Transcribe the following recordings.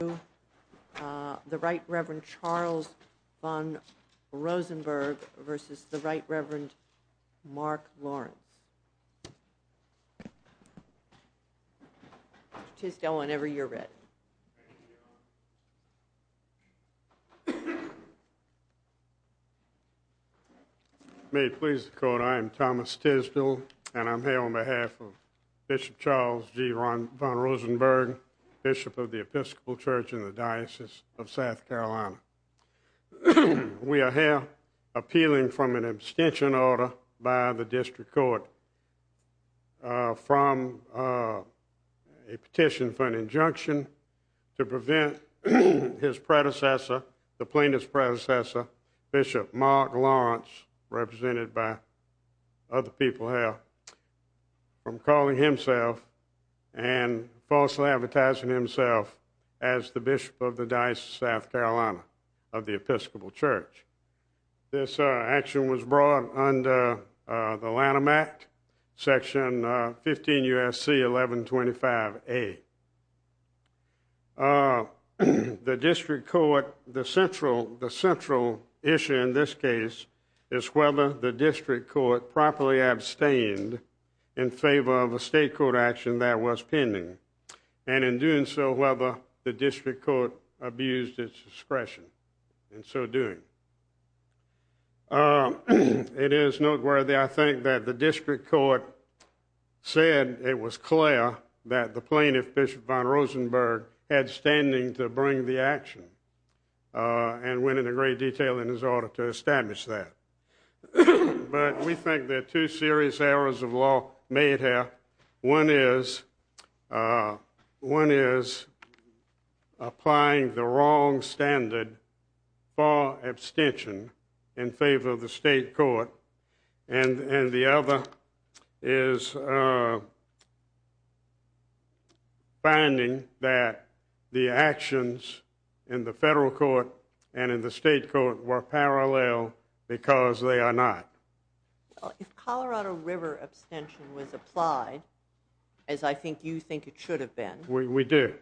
May it please the Court, I am Thomas Tisdell, and I am here on behalf of Bishop Charles G. vonRosenberg, Bishop of the Episcopal Church in the Diocese of South Carolina. We are here appealing from an abstention order by the District Court from a petition for an injunction to prevent his predecessor, the plaintiff's predecessor, Bishop Mark Lawrence, represented by other people here, from calling himself and falsely advertising himself as the Bishop of the Diocese of South Carolina of the Episcopal Church. This action was brought under the Lanham Act, Section 15 U.S.C. 1125A. The District Court, the central issue in this case is whether the District Court properly abstained in favor of a State Court action that was pending, and in doing so, whether the District Court abused its discretion in so doing. It is noteworthy, I think, that the District Court said it was clear that the plaintiff, Bishop vonRosenberg, had standing to bring the action and went into great detail in his order to establish that. But we think there are two serious errors of law made here. One is applying the wrong standard for abstention in favor of the State Court, and the other is finding that the actions in the Federal Court and in the State Court were parallel because they are not. Well, if Colorado River abstention was applied, as I think you think it should have been... We do.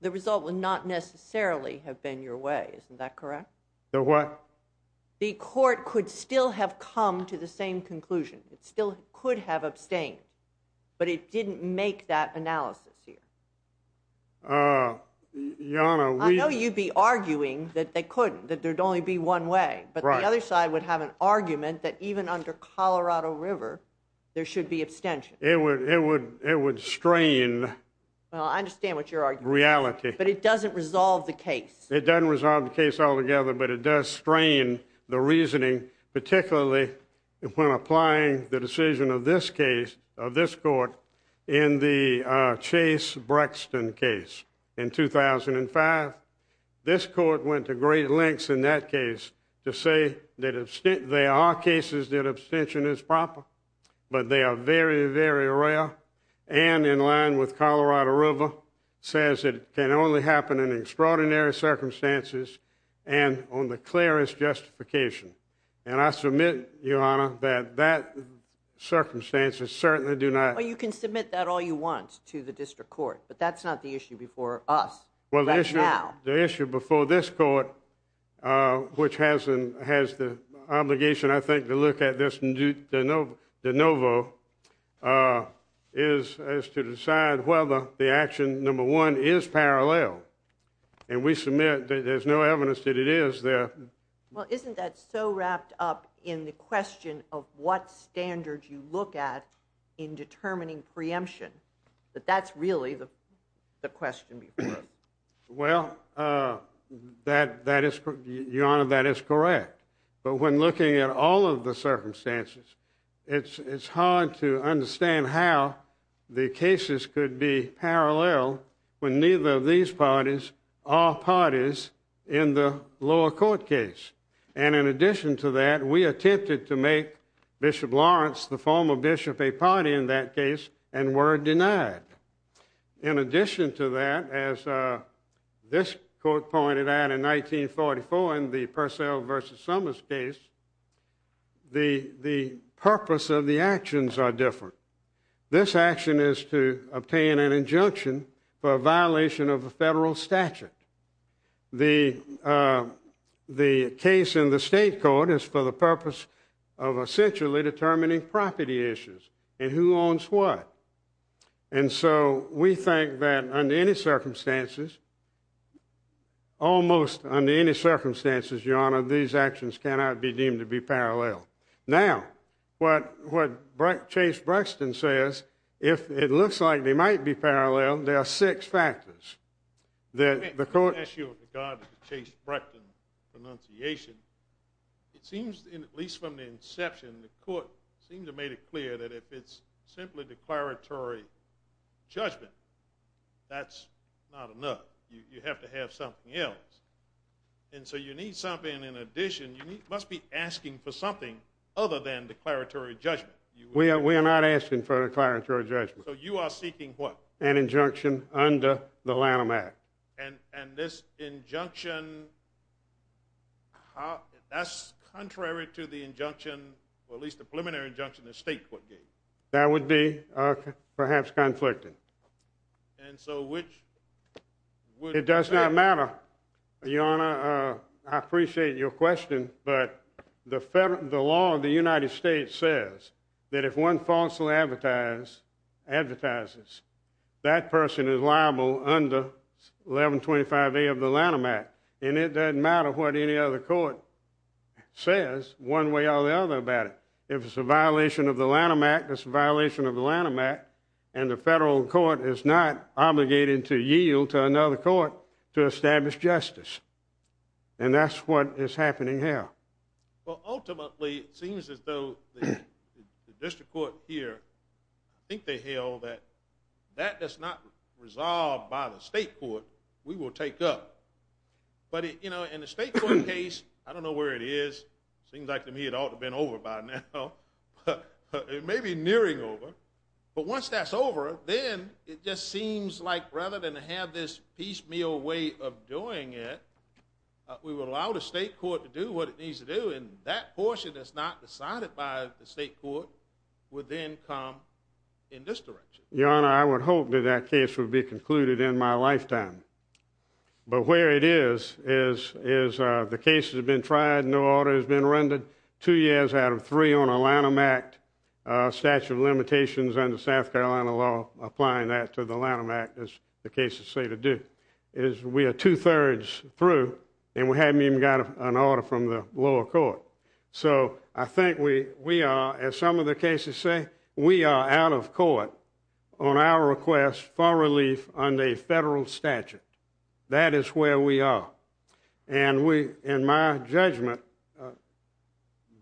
The result would not necessarily have been your way, isn't that correct? The what? The court could still have come to the same conclusion. It still could have abstained, but it didn't make that analysis here. I know you'd be arguing that they couldn't, that there'd only be one way, but the other side would have an argument that even under Colorado River, there should be abstention. It would strain... Well, I understand what you're arguing. ...reality. But it doesn't resolve the case. It doesn't resolve the case altogether, but it does strain the reasoning, particularly when applying the decision of this case, of this court, in the Chase-Brexton case in 2005. This court went to great lengths in that case to say that there are cases that abstention is proper, but they are very, very rare, and in line with Colorado River, says it can only happen in extraordinary circumstances and on the clearest justification. And I submit, Your Honor, that that circumstances certainly do not... Well, you can submit that all you want to the district court, but that's not the issue before us right now. The issue before this court, which has the obligation, I think, to look at this de novo, is to decide whether the action, number one, is parallel. And we submit that there's no evidence that it is there. Well, isn't that so wrapped up in the question of what standard you look at in determining preemption, that that's really the question before us? Well, Your Honor, that is correct. But when looking at all of the circumstances, it's hard to understand how the cases could be parallel when neither of these parties are parties in the lower court case. And in addition to that, we attempted to make Bishop Lawrence, the former bishop, a party in that case and were denied. In addition to that, as this court pointed out in 1944 in the Purcell v. Summers case, the purpose of the actions are different. This action is to obtain an injunction for a violation of a federal statute. The case in the state court is for the purpose of essentially determining property issues and who owns what. And so we think that under any circumstances, almost under any circumstances, Your Honor, these actions cannot be deemed to be parallel. Now, what Chase Brexton says, if it looks like they might be parallel, there are six factors. The issue with regard to Chase Brexton's pronunciation, it seems, at least from the inception, the court seemed to have made it clear that if it's simply declaratory judgment, that's not enough. You have to have something else. And so you need something in addition. You must be asking for something other than declaratory judgment. We are not asking for declaratory judgment. So you are seeking what? An injunction under the Lanham Act. And this injunction, that's contrary to the injunction, or at least the preliminary injunction the state court gave. That would be perhaps conflicted. And so which? It does not matter, Your Honor. I appreciate your question. But the law of the United States says that if one falsely advertises, that person is liable under 1125A of the Lanham Act. And it doesn't matter what any other court says one way or the other about it. If it's a violation of the Lanham Act, it's a violation of the Lanham Act, and the federal court is not obligated to yield to another court to establish justice. And that's what is happening here. Well, ultimately, it seems as though the district court here, I think they held that that is not resolved by the state court. We will take up. But in the state court case, I don't know where it is. Seems like to me it ought to have been over by now. It may be nearing over. But once that's over, then it just seems like rather than have this piecemeal way of doing it, we would allow the state court to do what it needs to do. And that portion that's not decided by the state court would then come in this direction. Your Honor, I would hope that that case would be concluded in my lifetime. But where it is, is the case has been tried, no order has been rendered. Two years out of three on a Lanham Act, statute of limitations under South Carolina law, applying that to the Lanham Act, as the cases say to do. We are two-thirds through, and we haven't even got an order from the lower court. So I think we are, as some of the cases say, we are out of court on our request for relief under a federal statute. That is where we are. And in my judgment,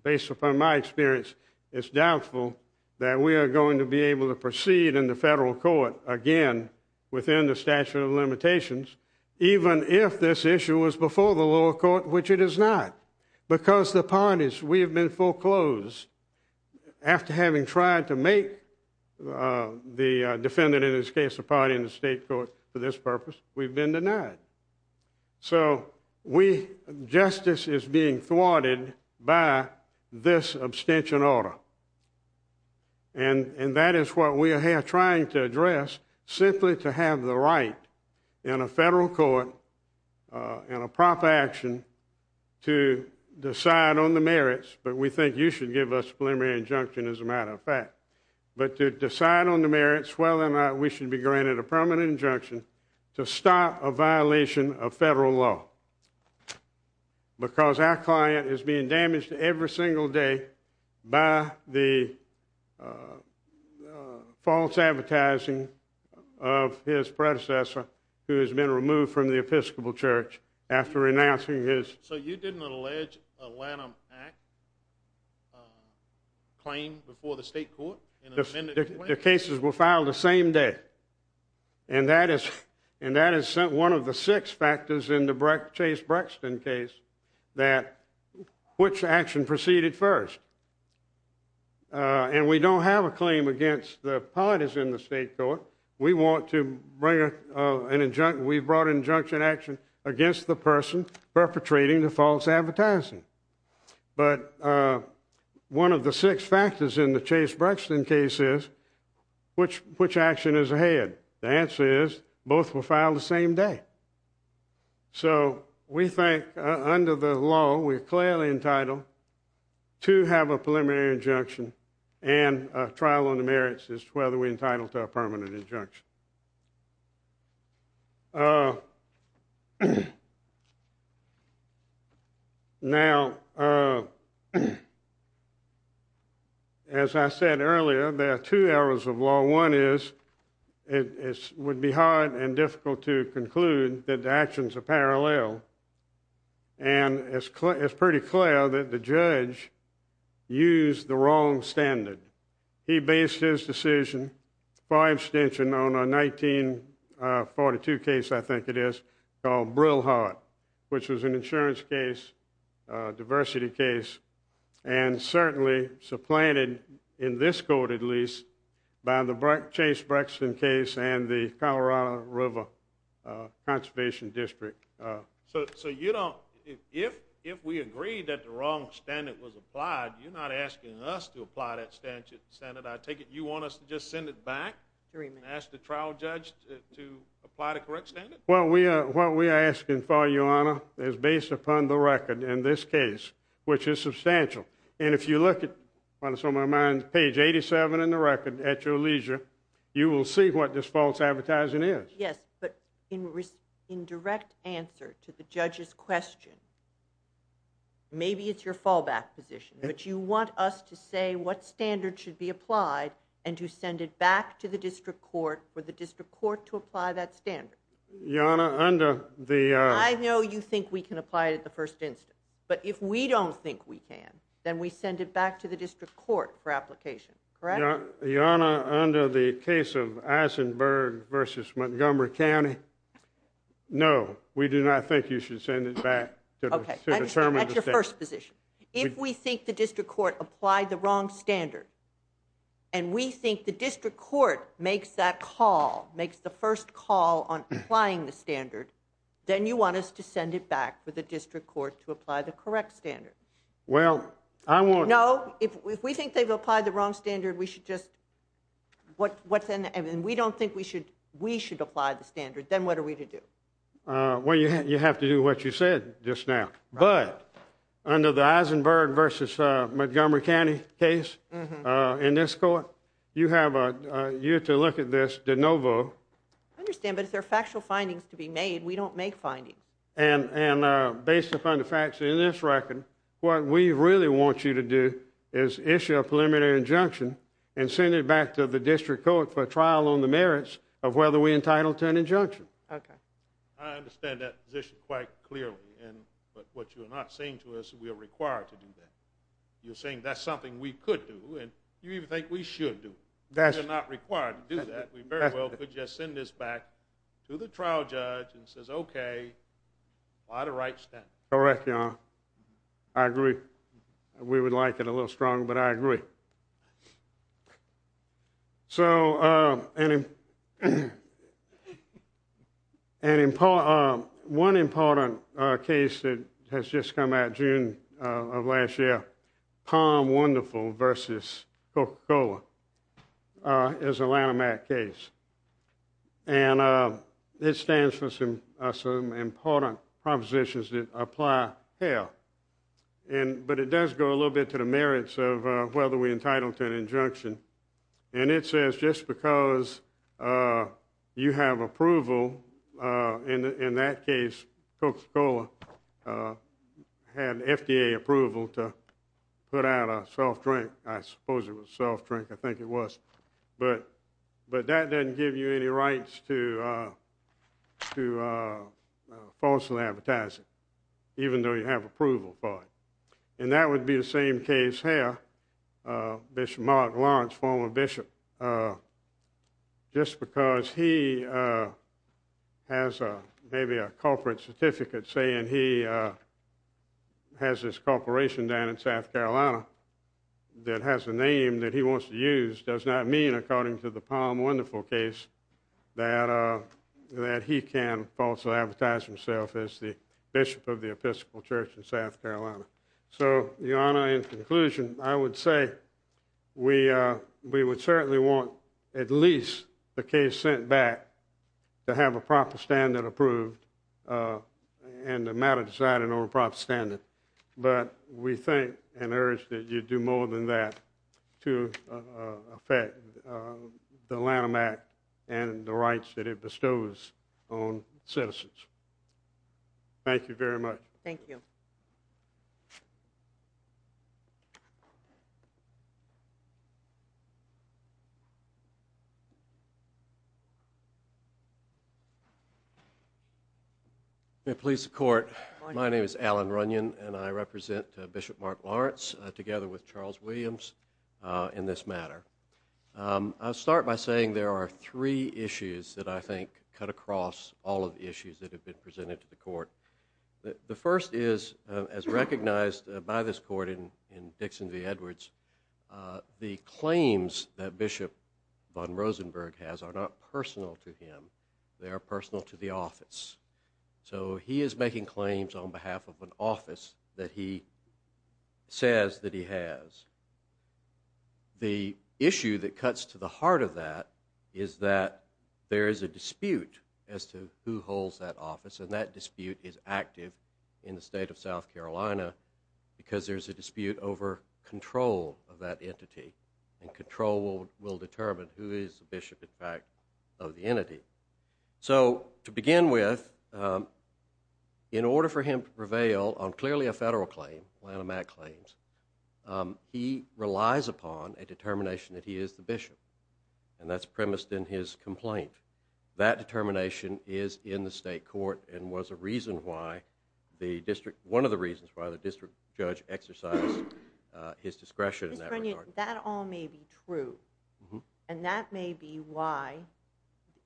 based upon my experience, it's doubtful that we are going to be able to proceed in the federal court again within the statute of limitations, even if this issue was before the lower court, which it is not. Because the parties, we have been foreclosed. After having tried to make the defendant, in this case, the party in the state court for this purpose, we've been denied. So we, justice is being thwarted by this abstention order. And that is what we are here trying to address, simply to have the right in a federal court, in a proper action, to decide on the merits. But we think you should give us a preliminary injunction, as a matter of fact. But to decide on the merits, whether or not we should be granted a permanent injunction to stop a violation of federal law. Because our client is being damaged every single day by the false advertising of his predecessor, who has been removed from the Episcopal Church after renouncing his... So you didn't allege a Lanham Act claim before the state court? The cases were filed the same day. And that is one of the six factors in the Chase-Brexton case, that which action proceeded first. And we don't have a claim against the parties in the state court. We want to bring an injunction, we brought an injunction action against the person perpetrating the false advertising. But one of the six factors in the Chase-Brexton case is, which action is ahead? The answer is, both were filed the same day. So we think, under the law, we're clearly entitled to have a preliminary injunction and a trial on the merits as to whether we're entitled to a permanent injunction. Now, as I said earlier, there are two areas of law. One is, it would be hard and difficult to conclude that the actions are parallel. And it's pretty clear that the judge used the wrong standard. He based his decision, far extension, on a 1942 case, I think it is, called Brillhart, which was an insurance case, a diversity case, and certainly supplanted, in this court at least, by the Chase-Brexton case and the Colorado River Conservation District. So you don't, if we agree that the wrong standard was applied, you're not asking us to apply that standard. I take it you want us to just send it back and ask the trial judge to apply the correct standard? Well, what we are asking for, Your Honor, is based upon the record in this case, which is substantial. And if you look at, what is on my mind, page 87 in the record, at your leisure, you will see what this false advertising is. Yes, but in direct answer to the judge's question, maybe it's your fallback position, but you want us to say what standard should be applied and to send it back to the district court for the district court to apply that standard. Your Honor, under the... I know you think we can apply it at the first instance, but if we don't think we can, then we send it back to the district court for application, correct? Your Honor, under the case of Eisenberg versus Montgomery County, no, we do not think you should send it back to determine the standard. Okay, that's your first position. If we think the district court applied the wrong standard and we think the district court makes that call, makes the first call on applying the standard, then you want us to send it back for the district court to apply the correct standard. Well, I want... No, if we think they've applied the wrong standard, we should just... And we don't think we should apply the standard, then what are we to do? Well, you have to do what you said just now. But under the Eisenberg versus Montgomery County case in this court, you have to look at this de novo. I understand, but if there are factual findings to be made, we don't make findings. And based upon the facts in this record, what we really want you to do is issue a preliminary injunction and send it back to the district court for trial on the merits of whether we're entitled to an injunction. Okay. I understand that position quite clearly, and what you're not saying to us, we are required to do that. You're saying that's something we could do, and you even think we should do it. That's... We're not required to do that. We very well could just send this back to the trial judge and says, okay, by the right standard. Correct, Your Honor. I agree. We would like it a little stronger, but I agree. So, one important case that has just come out June of last year, Palm Wonderful versus Coca-Cola is a Lanham Act case. And it stands for some important propositions that apply here. But it does go a little bit to the merits of whether we're entitled to an injunction. And it says just because you have approval, in that case, Coca-Cola had FDA approval to put out a self-drink. I suppose it was a self-drink. I think it was. But that doesn't give you any rights to falsely advertising, even though you have approval for it. And that would be the same case here. Bishop Mark Lawrence, former bishop, just because he has maybe a corporate certificate saying he has this corporation down in South Carolina that has a name that he wants to use does not mean, according to the Palm Wonderful case, that he can falsely advertise himself as the bishop of the Episcopal Church in South Carolina. So, Your Honor, in conclusion, I would say we would certainly want at least the case sent back to have a proper standard approved and the matter decided on a proper standard. But we think and urge that you do more than that to affect the Lanham Act and the rights that it bestows on citizens. Thank you very much. Thank you. Thank you. May it please the Court, my name is Alan Runyon and I represent Bishop Mark Lawrence together with Charles Williams in this matter. I'll start by saying there are three issues that I think cut across all of the issues that have been presented to the Court. The first is, as recognized by this Court in Dixon v. Edwards, the claims that Bishop von Rosenberg has are not personal to him. They are personal to the office. So he is making claims on behalf of an office that he says that he has. The issue that cuts to the heart of that is that there is a dispute as to who holds that office and that dispute is active in the state of South Carolina because there's a dispute over control of that entity and control will determine who is the bishop, in fact, of the entity. So to begin with, in order for him to prevail on clearly a federal claim, Lanham Act claims, he relies upon a determination that he is the bishop and that's premised in his complaint. That determination is in the state court and was a reason why the district, one of the reasons why the district judge exercised his discretion in that regard. That all may be true and that may be why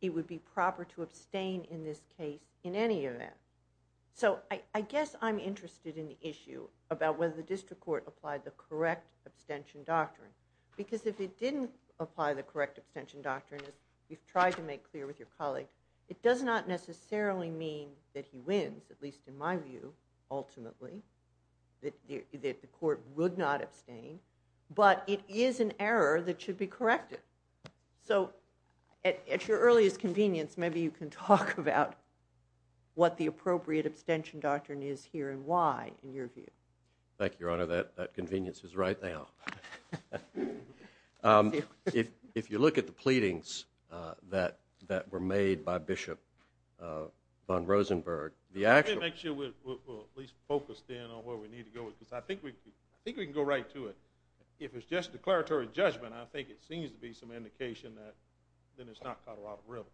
it would be proper to abstain in this case in any event. So I guess I'm interested in the issue about whether the district court applied the correct abstention doctrine because if it didn't apply the correct abstention doctrine, as you've tried to make clear with your colleague, it does not necessarily mean that he wins, at least in my view, ultimately, that the court would not abstain but it is an error that should be corrected. So at your earliest convenience, maybe you can talk about what the appropriate abstention doctrine is here and why, in your view. Thank you, Your Honor, that convenience is right now. If you look at the pleadings that were made by Bishop von Rosenberg, the actual... Let me make sure we're at least focused in on where we need to go because I think we can go right to it. If it's just declaratory judgment, I think it seems to be some indication that then it's not Colorado River.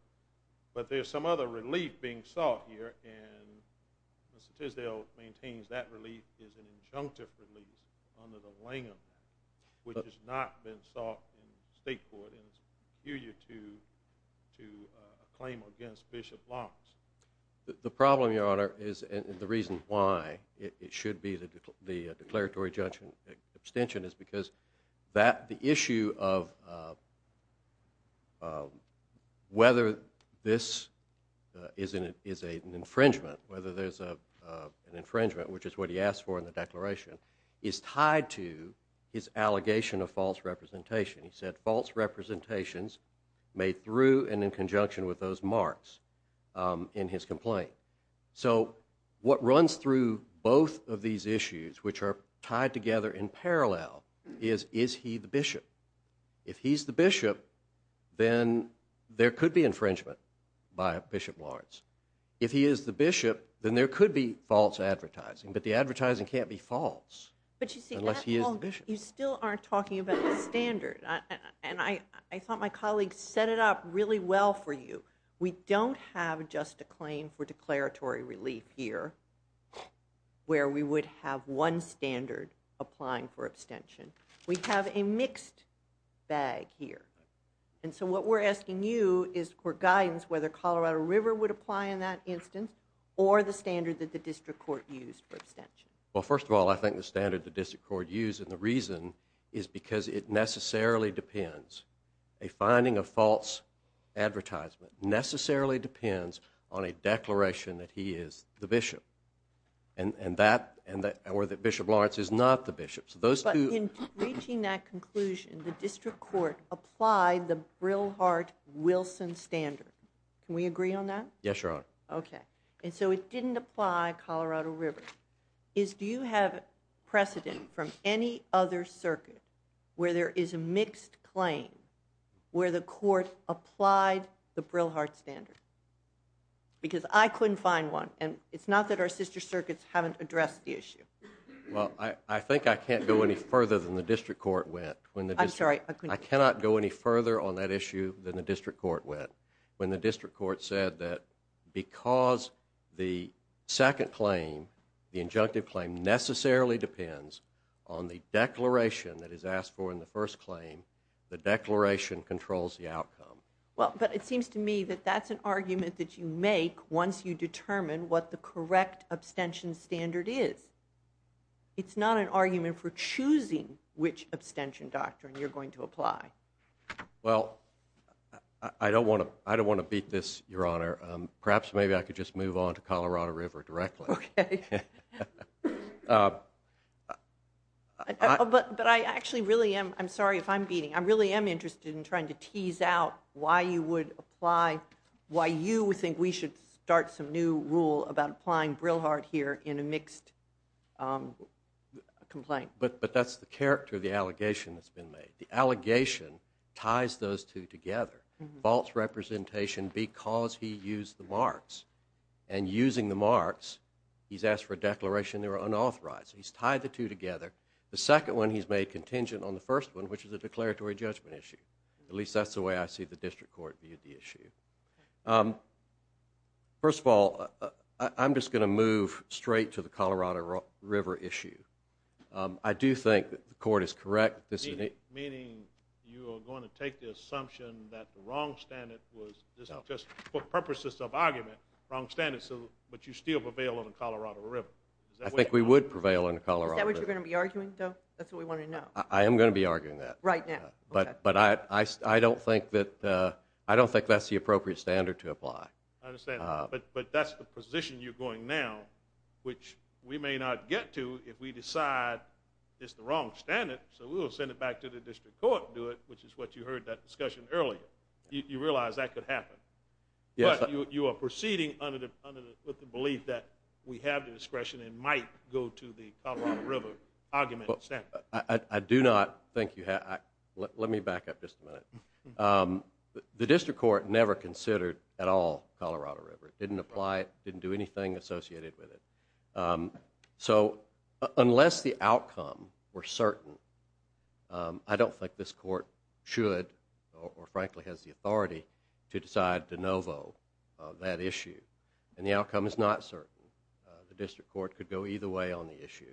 But there's some other relief being sought here and Mr. Tisdale maintains that relief is an injunctive relief under the Langham Act, which has not been sought in the state court due to a claim against Bishop Lawrence. The problem, Your Honor, is, and the reason why it should be the declaratory judgment abstention is because the issue of whether this is an infringement, whether there's an infringement, which is what he asked for in the declaration, is tied to his allegation of false representation. He said false representations made through and in conjunction with those marks in his complaint. So what runs through both of these issues, which are tied together in parallel, is, is he the bishop? If he's the bishop, then there could be infringement by Bishop Lawrence. If he is the bishop, but the advertising can't be false unless he is the bishop. You still aren't talking about the standard. And I thought my colleague set it up really well for you. We don't have just a claim for declaratory relief here where we would have one standard applying for abstention. We have a mixed bag here. And so what we're asking you is for guidance whether Colorado River would apply in that instance or the standard that the district court used for abstention. Well, first of all, I think the standard the district court used, and the reason is because it necessarily depends. A finding of false advertisement necessarily depends on a declaration that he is the bishop. And, and that, and that, or that Bishop Lawrence is not the bishop. So those two- But in reaching that conclusion, the district court applied the Brilhart-Wilson standard. Can we agree on that? Yes, Your Honor. Okay. And so it didn't apply Colorado River. Is, do you have precedent from any other circuit where there is a mixed claim where the court applied the Brilhart standard? Because I couldn't find one, and it's not that our sister circuits haven't addressed the issue. Well, I, I think I can't go any further than the district court went when the- I'm sorry, I couldn't- I cannot go any further on that issue than the district court went when the district court said that because the second claim, the injunctive claim, necessarily depends on the declaration that is asked for in the first claim, the declaration controls the outcome. Well, but it seems to me that that's an argument that you make once you determine what the correct abstention standard is. It's not an argument for choosing which abstention doctrine you're going to apply. Well, I don't want to, I don't want to beat this, Your Honor. Perhaps maybe I could just move on to Colorado River directly. Okay. But I actually really am, I'm sorry if I'm beating, I really am interested in trying to tease out why you would apply, why you think we should start some new rule about applying Brilhart here in a mixed complaint. But that's the character of the allegation that's been made. The allegation ties those two together. False representation because he used the marks. And using the marks, he's asked for a declaration, they were unauthorized. He's tied the two together. The second one he's made contingent on the first one, which is a declaratory judgment issue. At least that's the way I see the district court viewed the issue. First of all, I'm just going to move straight I do think that the court is correct. Meaning you are going to take the assumption that the wrong standard was, this is just for purposes of argument, wrong standards. So, but you still prevail on the Colorado River. I think we would prevail on the Colorado River. Is that what you're going to be arguing though? That's what we want to know. I am going to be arguing that. Right now. But I don't think that's the appropriate standard to apply. I understand. But that's the position you're going now, which we may not get to if we decide it's the wrong standard. So we will send it back to the district court and do it, which is what you heard that discussion earlier. You realize that could happen. Yes. You are proceeding under the belief that we have the discretion and might go to the Colorado River argument. I do not think you have. Let me back up just a minute. The district court never considered at all Colorado River. It didn't apply. It didn't do anything associated with it. So unless the outcome were certain, I don't think this court should or frankly has the authority to decide de novo that issue. And the outcome is not certain. The district court could go either way on the issue.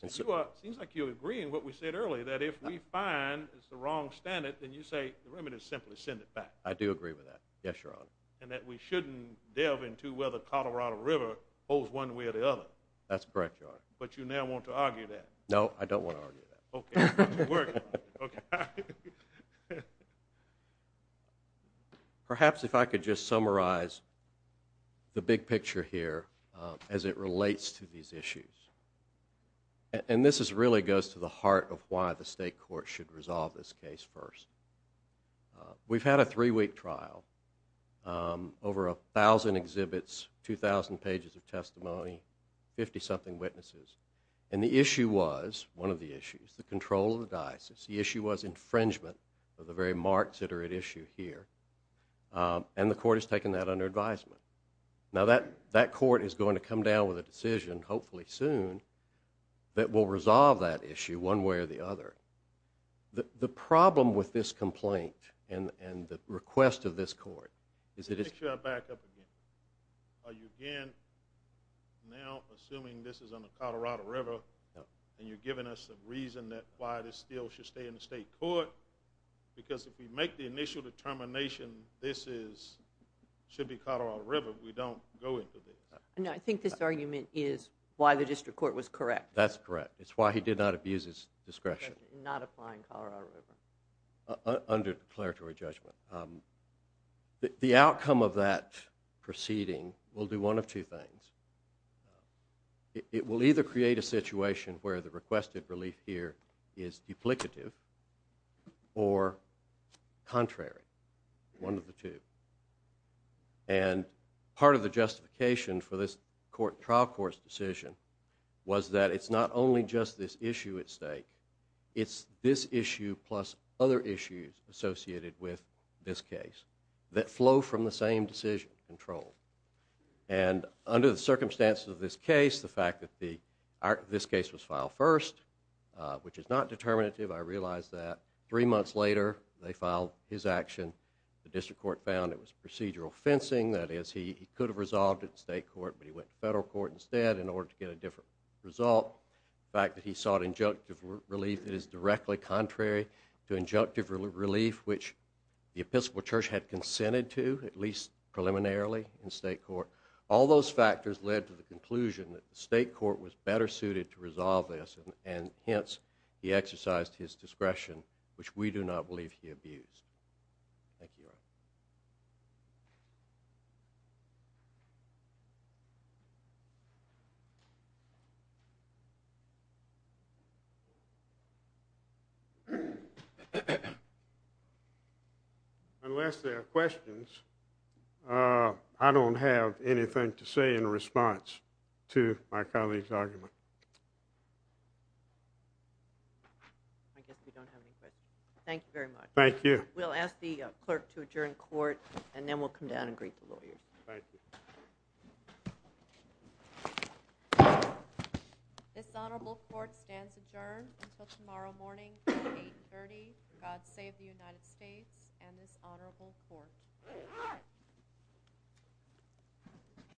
Seems like you're agreeing what we said earlier, that if we find it's the wrong standard, then you say the remittance simply send it back. I do agree with that. Yes, Your Honor. And that we shouldn't delve into whether Colorado River holds one way or the other. That's correct, Your Honor. But you now want to argue that. No, I don't want to argue that. Okay. Perhaps if I could just summarize the big picture here as it relates to these issues. And this is really goes to the heart of why the state court should resolve this case first. We've had a three-week trial, over a thousand exhibits, 2,000 pages of testimony, 50-something witnesses. And the issue was, one of the issues, the control of the diocese. The issue was infringement of the very marks that are at issue here. And the court has taken that under advisement. Now that court is going to come down with a decision, hopefully soon, that will resolve that issue one way or the other. The problem with this complaint and the request of this court is that it's- Let me make sure I back up again. Are you again now assuming this is on the Colorado River and you're giving us a reason that why this still should stay in the state court? Because if we make the initial determination, this should be Colorado River, we don't go into this. No, I think this argument is why the district court was correct. That's correct. It's why he did not abuse his discretion. Not applying Colorado River. Under declaratory judgment. The outcome of that proceeding will do one of two things. It will either create a situation where the requested relief here is duplicative or contrary. One of the two. And part of the justification for this trial court's decision was that it's not only just this issue at stake, it's this issue plus other issues associated with this case that flow from the same decision control. And under the circumstances of this case, the fact that this case was filed first, which is not determinative, I realize that. Three months later, they filed his action. The district court found it was procedural fencing. That is, he could have resolved it in state court but he went to federal court instead in order to get a different result. The fact that he sought injunctive relief is directly contrary to injunctive relief which the Episcopal Church had consented to, at least preliminarily, in state court. All those factors led to the conclusion that the state court was better suited to resolve this and hence, he exercised his discretion which we do not believe he abused. Thank you, Your Honor. Thank you. Unless there are questions, I don't have anything to say in response to my colleague's argument. I guess we don't have any questions. Thank you very much. Thank you. We'll ask the clerk to adjourn court and then we'll come down and greet the lawyers. Thank you. This honorable court stands adjourned until tomorrow morning at 8.30. God save the United States and this honorable court.